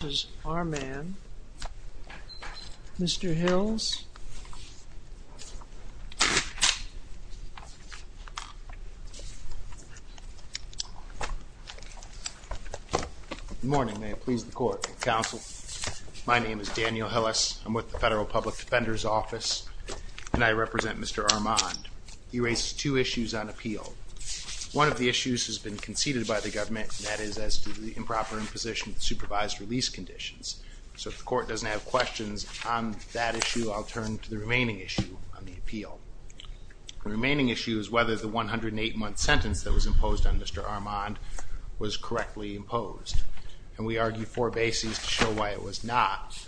This is Armand. Mr. Hills. Good morning. May it please the court and counsel. My name is Daniel Hillis. I'm with the Federal Public Defender's Office and I represent Mr. Armand. He raises two issues on appeal. One of the issues has been conceded by the government and that is to the improper imposition of supervised release conditions. So if the court doesn't have questions on that issue, I'll turn to the remaining issue on the appeal. The remaining issue is whether the 108-month sentence that was imposed on Mr. Armand was correctly imposed and we argued four bases to show why it was not.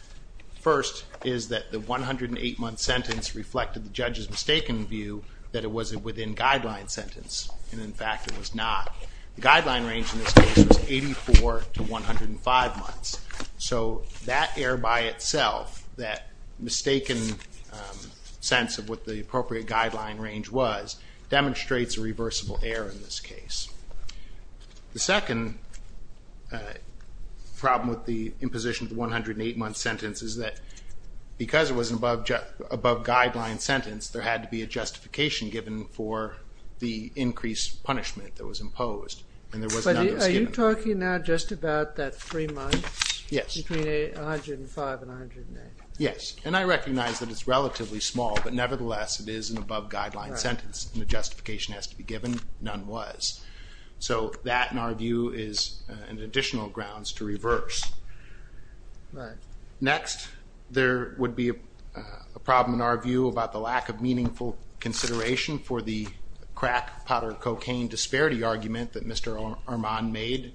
First is that the 108-month sentence reflected the judge's mistaken view that it wasn't within guideline sentence and in fact it was not. The guideline range in this case was 84 to 105 months. So that error by itself, that mistaken sense of what the appropriate guideline range was demonstrates a reversible error in this case. The second problem with the imposition of the 108-month sentence is that because it was above guideline sentence, there had to be a justification given for the increased punishment that was imposed and there was none that was given. But are you talking now just about that three months? Yes. Between 105 and 108. Yes and I recognize that it's relatively small but nevertheless it is an above guideline sentence and the justification has to be given, none was. So that in our view is an additional grounds to reverse. Right. Next there would be a problem in our view about the crack, powder, cocaine disparity argument that Mr. Armand made.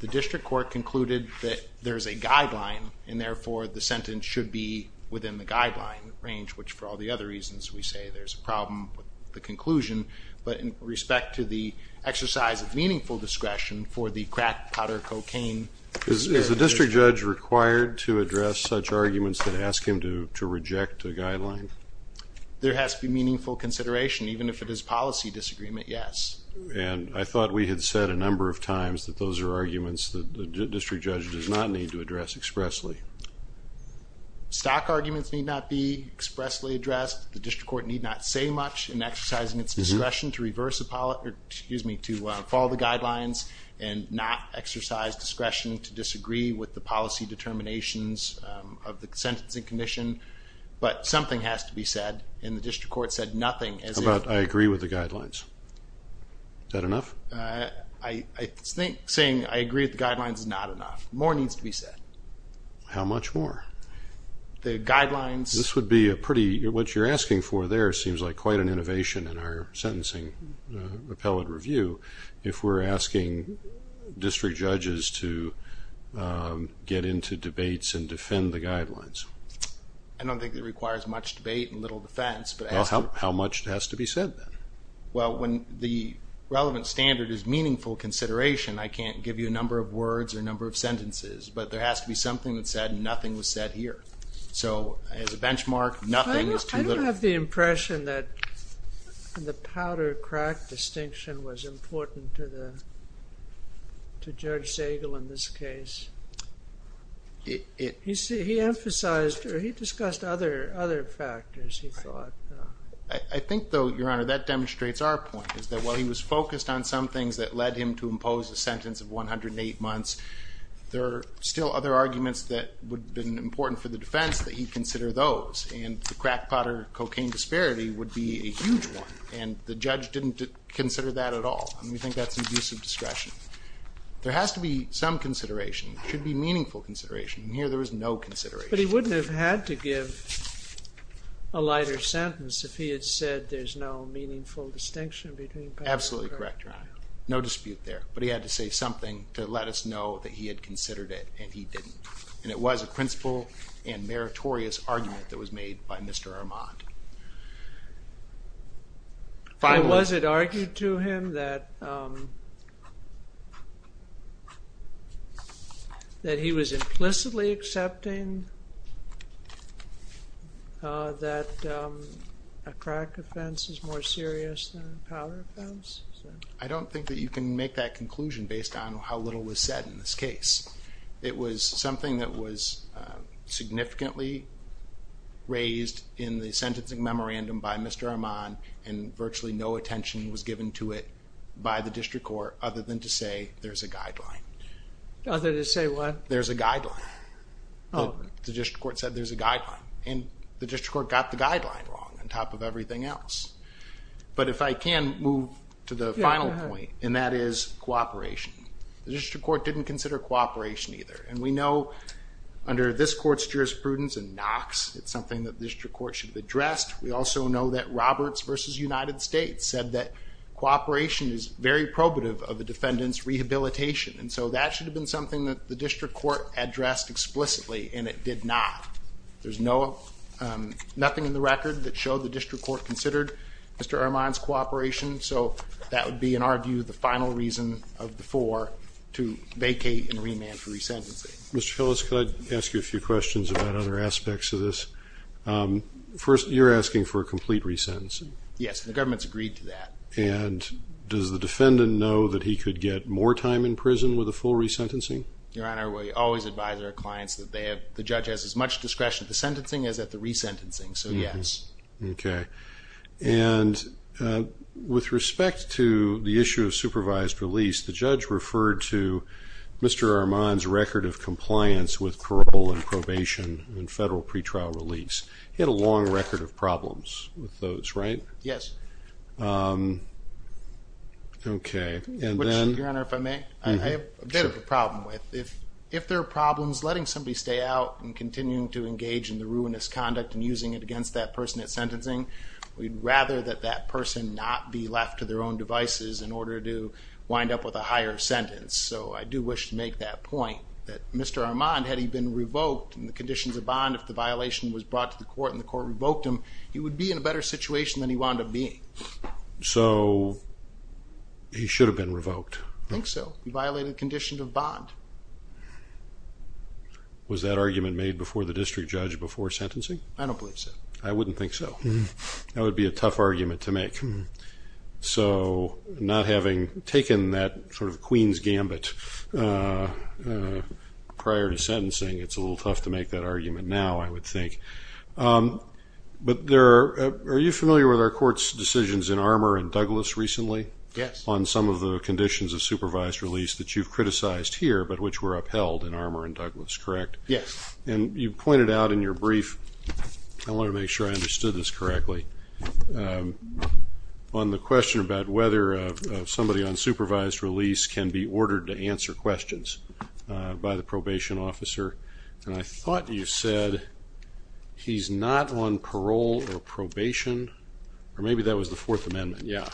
The district court concluded that there's a guideline and therefore the sentence should be within the guideline range which for all the other reasons we say there's a problem with the conclusion but in respect to the exercise of meaningful discretion for the crack, powder, cocaine. Is the district judge required to address such arguments that ask him to reject a guideline? There has to be meaningful consideration even if it is policy disagreement, yes. And I thought we had said a number of times that those are arguments that the district judge does not need to address expressly. Stock arguments need not be expressly addressed. The district court need not say much in exercising its discretion to reverse a policy, excuse me, to follow the guidelines and not exercise discretion to disagree with the policy determinations of the sentencing condition but something has to be said and the district court said nothing. How about I agree with the guidelines? Is that enough? I think saying I agree with the guidelines is not enough. More needs to be said. How much more? The guidelines. This would be a pretty, what you're asking for there seems like quite an innovation in our sentencing appellate review if we're asking district judges to get into debates and defend the guidelines. I don't think it requires much debate and little defense. How much has to be said then? Well, when the relevant standard is meaningful consideration, I can't give you a number of words or a number of sentences but there has to be something that said nothing was said here. So, as a benchmark, nothing is too little. I don't have the impression that the powder sagal in this case. He emphasized or he discussed other other factors he thought. I think though, your honor, that demonstrates our point is that while he was focused on some things that led him to impose a sentence of 108 months, there are still other arguments that would have been important for the defense that he'd consider those and the crackpotter cocaine disparity would be a huge one and the judge didn't consider that at all and we think that's an abuse of some consideration. It should be meaningful consideration and here there was no consideration. But he wouldn't have had to give a lighter sentence if he had said there's no meaningful distinction between powder and crackpotter. Absolutely correct, your honor. No dispute there but he had to say something to let us know that he had considered it and he didn't and it was a principle and meritorious argument that was made by Mr. Armand. Was it argued to him that that he was implicitly accepting that a crack offense is more serious than a powder offense? I don't think that you can make that conclusion based on how little was said in this case. It was something that was significantly raised in the sentencing memorandum by Mr. Armand and virtually no attention was given to it by the district court other than to say there's a guideline. Other than to say what? There's a guideline. Oh. The district court said there's a guideline and the district court got the guideline wrong on top of everything else. But if I can move to the final point and that is cooperation. The district court didn't consider cooperation either and we know under this court's jurisprudence and Knox it's something that the district court should have addressed. We also know that Roberts versus United States said that cooperation is very probative of the defendant's rehabilitation and so that should have been something that the district court addressed explicitly and it did not. There's no nothing in the record that showed the district court considered Mr. Armand's cooperation so that would be in our view the final reason of the four to vacate and remand for resentencing. Mr. Kellis could I ask you a few questions about other aspects of this. First you're asking for a complete resentencing. Yes the government's agreed to that. And does the defendant know that he could get more time in prison with a full resentencing? Your Honor we always advise our clients that they have the judge has as much discretion at the sentencing as at the resentencing so yes. Okay and with respect to the issue of supervised release the judge referred to Mr. Armand's record of compliance with parole and probation and federal pretrial release. He had a long record of problems with those right? Yes. Okay and then. Your Honor if I may, I have a bit of a problem with if if there are problems letting somebody stay out and continuing to engage in the ruinous conduct and using it against that person at sentencing we'd rather that that person not be left to their own devices in order to wind up with a higher sentence. So I do wish to make that point that Mr. Armand had he been revoked and the conditions of bond if the violation was brought to the court and the court revoked him he would be in a better situation than he wound up being. So he should have been revoked. I think so. He violated the conditions of bond. Was that argument made before the district judge before sentencing? I don't believe so. I wouldn't think so. That would be a tough argument to make. So not having taken that sort of Queen's Gambit prior to sentencing it's a little tough to make that argument now I would think. But there are you familiar with our courts decisions in Armour and Douglas recently? Yes. On some of the conditions of supervised release that you've criticized here but which were upheld in Armour and Douglas correct? Yes. And you pointed out in your brief I on the question about whether somebody on supervised release can be ordered to answer questions by the probation officer and I thought you said he's not on parole or probation or maybe that was the Fourth Amendment yeah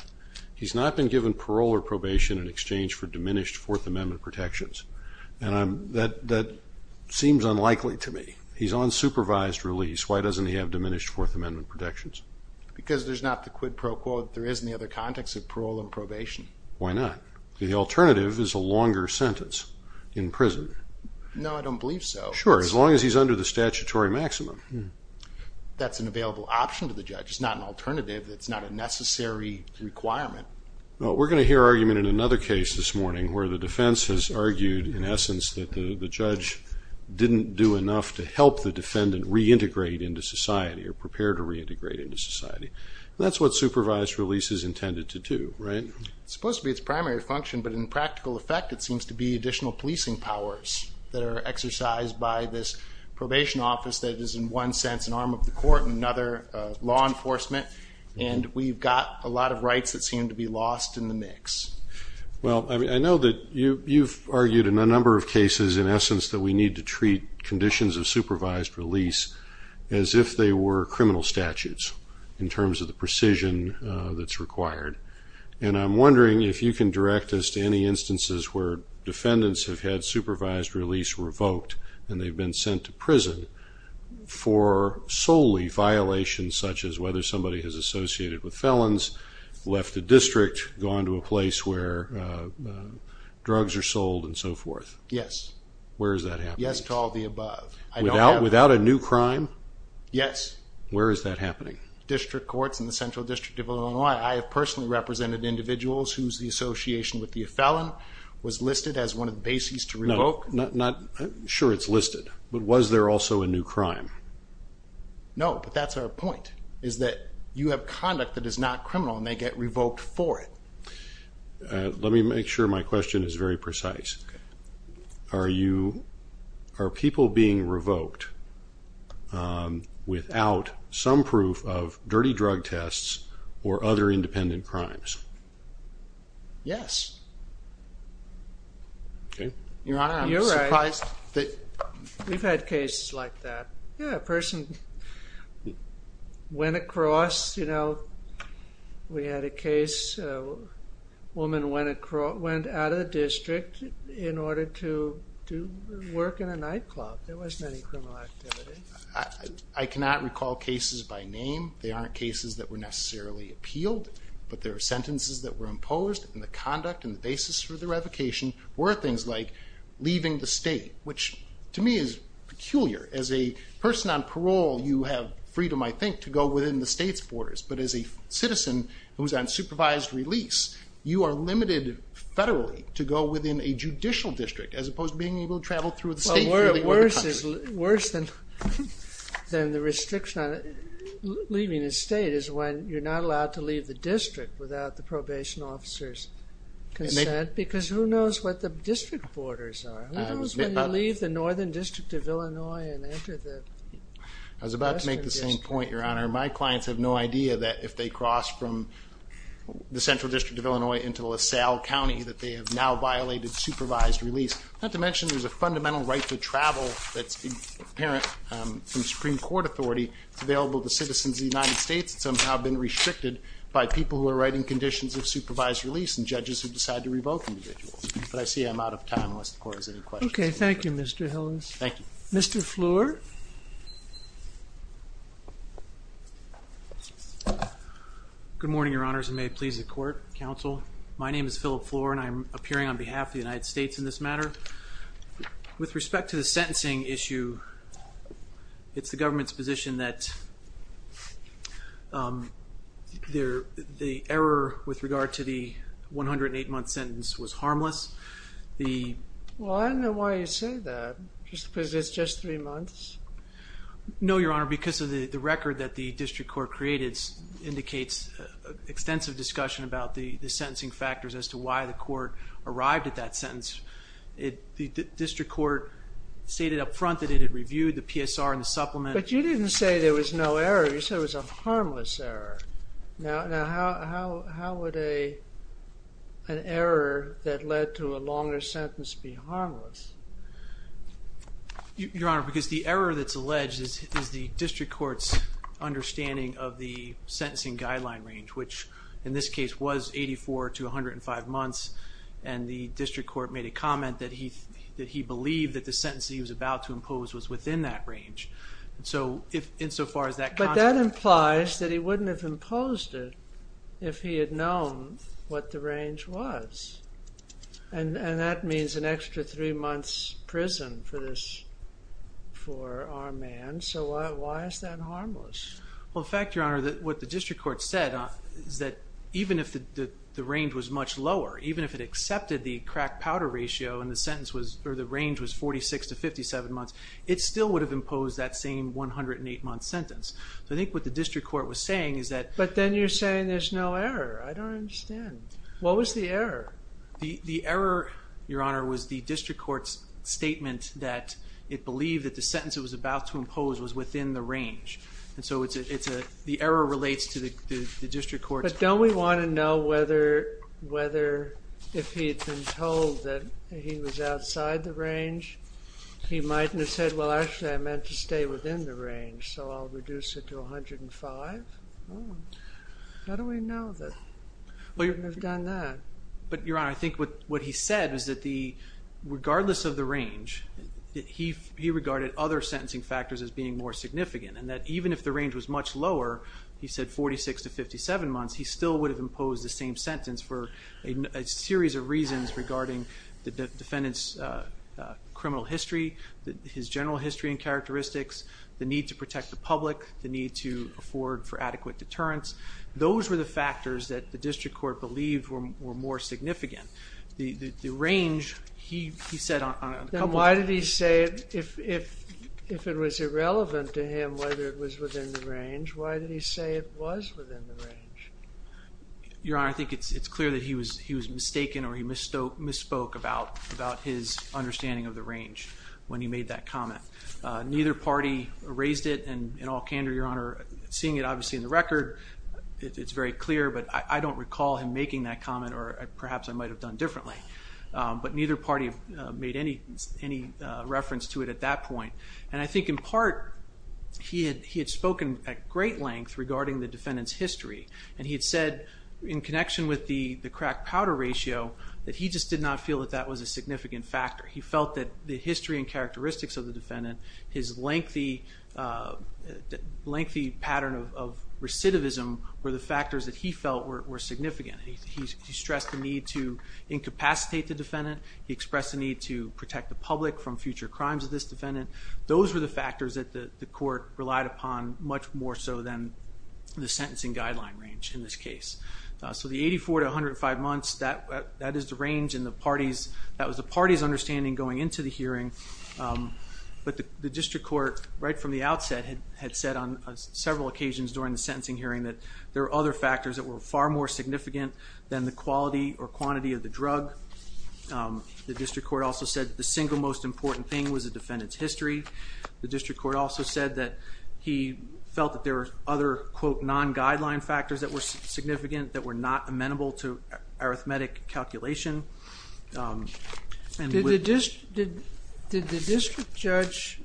he's not been given parole or probation in exchange for diminished Fourth Amendment protections and I'm that that seems unlikely to me he's on supervised release why doesn't he have diminished Fourth Amendment protections? Because there's not the quid pro quo that there is in the other context of parole and probation. Why not? The alternative is a longer sentence in prison. No I don't believe so. Sure as long as he's under the statutory maximum. That's an available option to the judge it's not an alternative it's not a necessary requirement. Well we're going to hear argument in another case this morning where the defense has argued in essence that the the judge didn't do enough to help the defendant reintegrate into society or prepare to reintegrate into that's what supervised release is intended to do right? It's supposed to be its primary function but in practical effect it seems to be additional policing powers that are exercised by this probation office that is in one sense an arm of the court and another law enforcement and we've got a lot of rights that seem to be lost in the mix. Well I mean I know that you you've argued in a number of cases in essence that we need to treat conditions of criminal statutes in terms of the precision that's required and I'm wondering if you can direct us to any instances where defendants have had supervised release revoked and they've been sent to prison for solely violations such as whether somebody has associated with felons left the district gone to a place where drugs are sold and so forth. Yes. Where is that happening? Without a new crime? Yes. Where is that happening? District courts in the Central District of Illinois. I have personally represented individuals whose the association with the felon was listed as one of the bases to revoke. Not sure it's listed but was there also a new crime? No but that's our point is that you have conduct that is not criminal and they get revoked for it. Let me make sure my question is very precise. Are people being revoked without some proof of dirty drug tests or other independent crimes? Yes. Your Honor, I'm surprised. We've had cases like that. Yeah a person went across, you know, we had a case a woman went out of the district in order to work in a nightclub. There wasn't any criminal activity. I cannot recall cases by name. They aren't cases that were necessarily appealed but there are sentences that were imposed and the conduct and the basis for the revocation were things like leaving the state which to me is peculiar. As a person on parole you have freedom, I think, to go within the state's borders but as a citizen who's on supervised release you are limited federally to go within a judicial district as opposed to being able to travel through the state. Worse than the restriction on leaving the state is when you're not allowed to leave the district without the probation officer's consent because who knows what the district borders are? Who knows when you leave the Northern I was about to make the same point, Your Honor. My clients have no idea that if they cross from the Central District of Illinois into LaSalle County that they have now violated supervised release. Not to mention there's a fundamental right to travel that's apparent from Supreme Court authority. It's available to citizens of the United States. It's somehow been restricted by people who are writing conditions of supervised release and judges who decide to revoke individuals. But I see I'm out of time unless the court has any questions. Okay, thank you Mr. Hillings. Thank you. Mr. Floor. Good morning, Your Honors, and may it please the court, counsel. My name is Philip Floor and I'm appearing on behalf of the United States in this matter. With respect to the sentencing issue, it's the government's position that the error with regard to the 108-month sentence was harmless. Well, I don't know why you say that, because it's just three months? No, Your Honor, because of the record that the district court created indicates extensive discussion about the the sentencing factors as to why the court arrived at that sentence. The district court stated up front that it had reviewed the PSR and the supplement. But you didn't say there was no error. You said, how would an error that led to a longer sentence be harmless? Your Honor, because the error that's alleged is the district court's understanding of the sentencing guideline range, which in this case was 84 to 105 months, and the district court made a comment that he that he believed that the sentence he was about to impose was within that range. So if insofar as that... But that implies that he wouldn't have imposed it if he had known what the range was. And that means an extra three months prison for this, for our man. So why is that harmless? Well, in fact, Your Honor, that what the district court said is that even if the range was much lower, even if it accepted the crack-powder ratio and the sentence was, or the range was 46 to 57 months, it still would have imposed that same 108 month sentence. So I think what the district court was saying is that... But then you're saying there's no error. I don't understand. What was the error? The error, Your Honor, was the district court's statement that it believed that the sentence it was about to impose was within the range. And so it's a, the error relates to the district court's... But don't we want to know whether if he had been told that he was outside the range, he might have said, well, actually I was meant to stay within the range, so I'll reduce it to 105. How do we know that he wouldn't have done that? But, Your Honor, I think what he said is that the, regardless of the range, that he regarded other sentencing factors as being more significant. And that even if the range was much lower, he said 46 to 57 months, he still would have imposed the same sentence for a series of reasons regarding the defendant's criminal history, his general history and characteristics, the need to protect the public, the need to afford for adequate deterrence. Those were the factors that the district court believed were more significant. The range, he said... Then why did he say, if it was irrelevant to him whether it was within the range, why did he say it was within the range? Your Honor, I think it's clear that he was mistaken or he misspoke about his understanding of the range when he made that comment. Neither party raised it and in all candor, Your Honor, seeing it obviously in the record, it's very clear but I don't recall him making that comment or perhaps I might have done differently. But neither party made any reference to it at that point. And I think in part, he had spoken at great length regarding the defendant's history and he had said in connection with the crack-powder ratio that he just did not feel that that was a significant factor. He felt that the history and characteristics of the defendant, his lengthy pattern of recidivism were the factors that he felt were significant. He stressed the need to incapacitate the defendant, he expressed the need to protect the public from future crimes of this defendant. Those were the factors that the court relied upon much more so than the sentencing guideline range in this case. So the 84 to 105 months, that is the range in the parties, that was the party's understanding going into the hearing. But the district court, right from the outset, had said on several occasions during the sentencing hearing that there are other factors that were far more significant than the quality or quantity of the drug. The district court also said the single most important thing was a defendant's history. The district court also said that he felt that there are other quote non-guideline factors that were significant that were not amenable to arithmetic calculation. Did the district judge,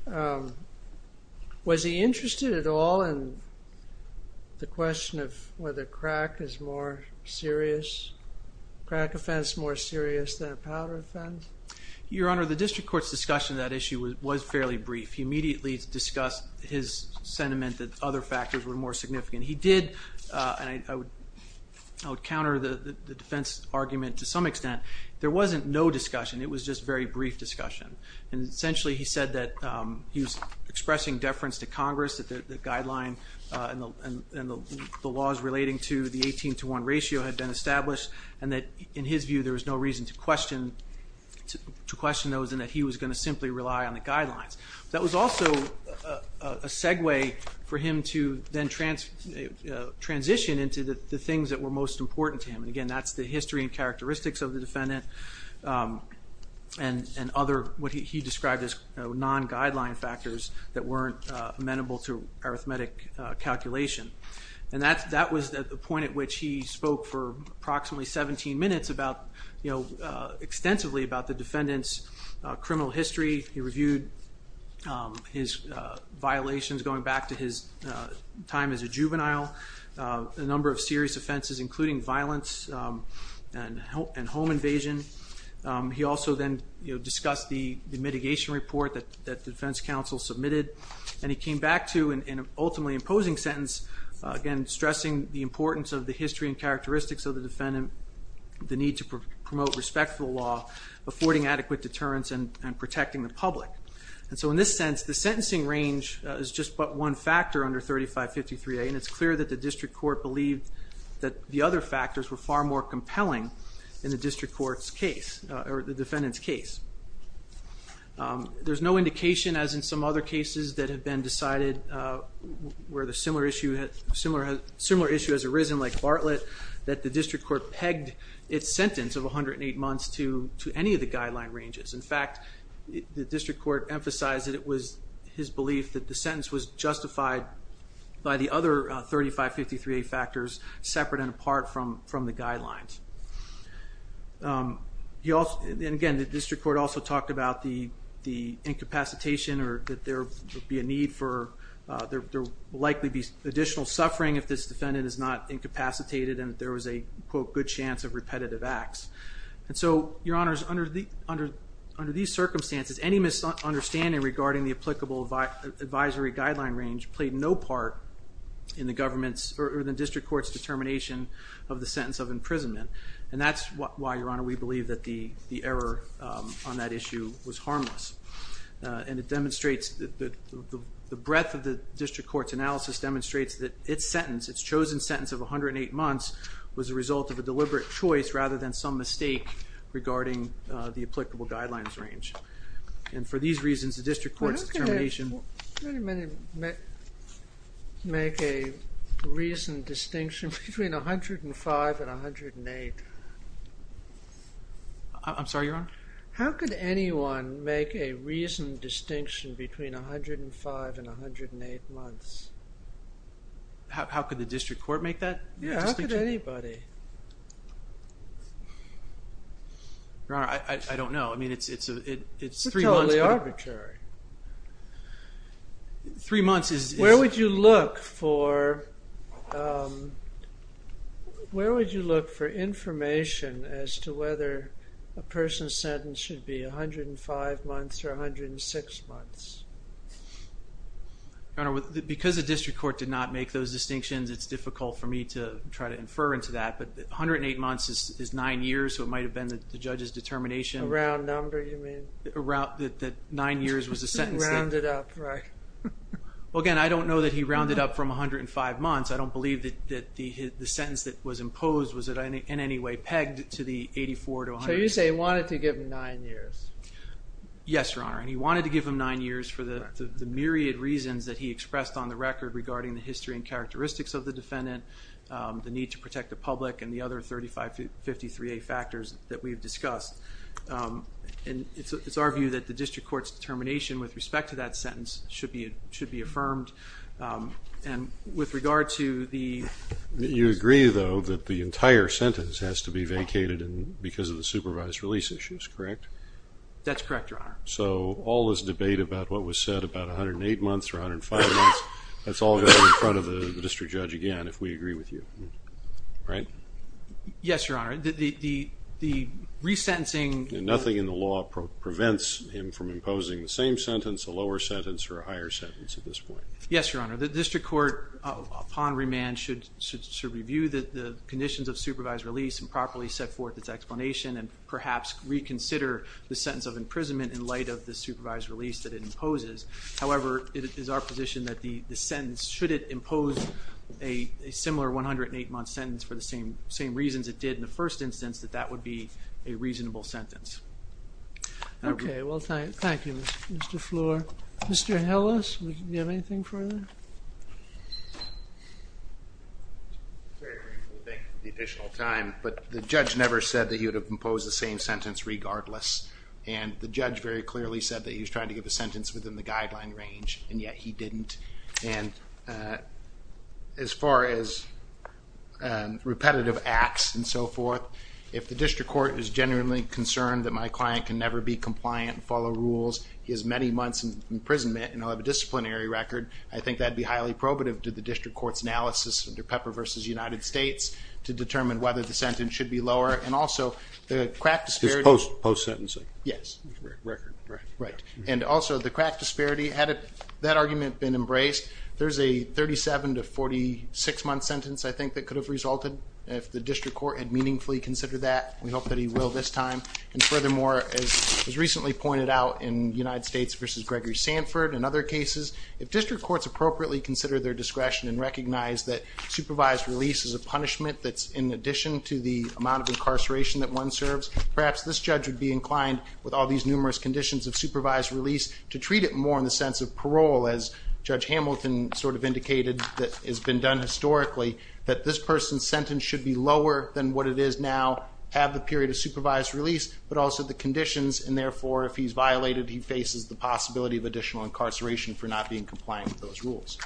was he interested at all in the question of whether crack is more serious, crack offense more serious than a powder offense? Your Honor, the district court's discussion of that issue was fairly brief. He immediately discussed his other factors were more significant. He did, and I would counter the defense argument to some extent, there wasn't no discussion. It was just very brief discussion and essentially he said that he was expressing deference to Congress that the guideline and the laws relating to the 18 to 1 ratio had been established and that in his view there was no reason to question those and that he was going to simply rely on the guidelines. That was also a segue for him to then transition into the things that were most important to him. And again, that's the history and characteristics of the defendant and other what he described as non-guideline factors that weren't amenable to arithmetic calculation. And that was the point at which he spoke for approximately 17 minutes about, you know, extensively about the defendant's time as a juvenile, a number of serious offenses including violence and home invasion. He also then, you know, discussed the mitigation report that the defense counsel submitted and he came back to an ultimately imposing sentence, again stressing the importance of the history and characteristics of the defendant, the need to promote respectful law, affording adequate deterrence, and protecting the public. And so in this sense, the sentencing range is just but one factor under 3553A and it's clear that the district court believed that the other factors were far more compelling than the district court's case or the defendant's case. There's no indication as in some other cases that have been decided where the similar issue has arisen like Bartlett, that the district court pegged its sentence of 108 months to any of the guideline ranges. In fact, the district court emphasized that it was justified by the other 3553A factors separate and apart from the guidelines. And again, the district court also talked about the incapacitation or that there would be a need for, there will likely be additional suffering if this defendant is not incapacitated and there was a, quote, good chance of repetitive acts. And so, Your Honors, under these circumstances, any misunderstanding regarding the applicable advisory guideline range played no part in the government's or the district court's determination of the sentence of imprisonment. And that's why, Your Honor, we believe that the error on that issue was harmless. And it demonstrates that the breadth of the district court's analysis demonstrates that its sentence, its chosen sentence of 108 months, was a result of a deliberate choice rather than some mistake regarding the applicable guidelines range. And for these reasons, the district court's determination... How many make a reasoned distinction between 105 and 108? I'm sorry, Your Honor? How could anyone make a reasoned distinction between 105 and 108 months? How could the district court make that distinction? Yeah, how could anybody? Your Honor, I don't know. I mean, it's three months. It's totally arbitrary. Three months is... Where would you look for, where would you look for information as to whether a person's sentence should be 105 months or 106 months? Your Honor, because the district court did not make those distinctions, it's difficult for me to try to infer into that. But 108 months is nine years, so it might have been the judge's determination... A round number, you mean? That nine years was a sentence that... Rounded up, right? Well, again, I don't know that he rounded up from 105 months. I don't believe that the sentence that was imposed was in any way pegged to the 84 to... So you say he wanted to give him nine years? Yes, Your Honor, and he wanted to give him nine years for the myriad reasons that he expressed on the defendant, the need to protect the public, and the other 3553A factors that we've discussed. And it's our view that the district court's determination with respect to that sentence should be should be affirmed. And with regard to the... You agree, though, that the entire sentence has to be vacated because of the supervised release issues, correct? That's correct, Your Honor. So all this debate about what was said about 108 months or 105 months, that's all in front of the if we agree with you, right? Yes, Your Honor. The resentencing... Nothing in the law prevents him from imposing the same sentence, a lower sentence, or a higher sentence at this point. Yes, Your Honor. The district court, upon remand, should review the conditions of supervised release and properly set forth its explanation and perhaps reconsider the sentence of imprisonment in light of the supervised release that it imposes. However, it is our position that the similar 108-month sentence, for the same reasons it did in the first instance, that that would be a reasonable sentence. Okay, well, thank you, Mr. Fleur. Mr. Hillis, do you have anything further? I think the additional time, but the judge never said that he would have imposed the same sentence regardless, and the judge very clearly said that he was trying to give a sentence within the guideline range, and yet he didn't. And as far as repetitive acts and so forth, if the district court is genuinely concerned that my client can never be compliant and follow rules, he has many months in imprisonment, and I'll have a disciplinary record, I think that'd be highly probative to the district court's analysis under Pepper v. United States to determine whether the sentence should be lower, and also the crack disparity... Had that argument been embraced, there's a 37 to 46-month sentence, I think, that could have resulted if the district court had meaningfully considered that. We hope that he will this time, and furthermore, as was recently pointed out in United States v. Gregory Sanford and other cases, if district courts appropriately consider their discretion and recognize that supervised release is a punishment that's in addition to the amount of incarceration that one serves, perhaps this judge would be inclined, with all these numerous conditions of to treat it more in the sense of parole, as Judge Hamilton sort of indicated that has been done historically, that this person's sentence should be lower than what it is now, have the period of supervised release, but also the conditions, and therefore if he's violated, he faces the possibility of additional incarceration for not being compliant with those rules.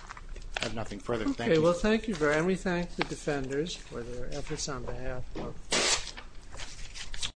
I have nothing further. Thank you. Okay, well thank you very much, and we thank the defenders for their efforts on behalf of the district court.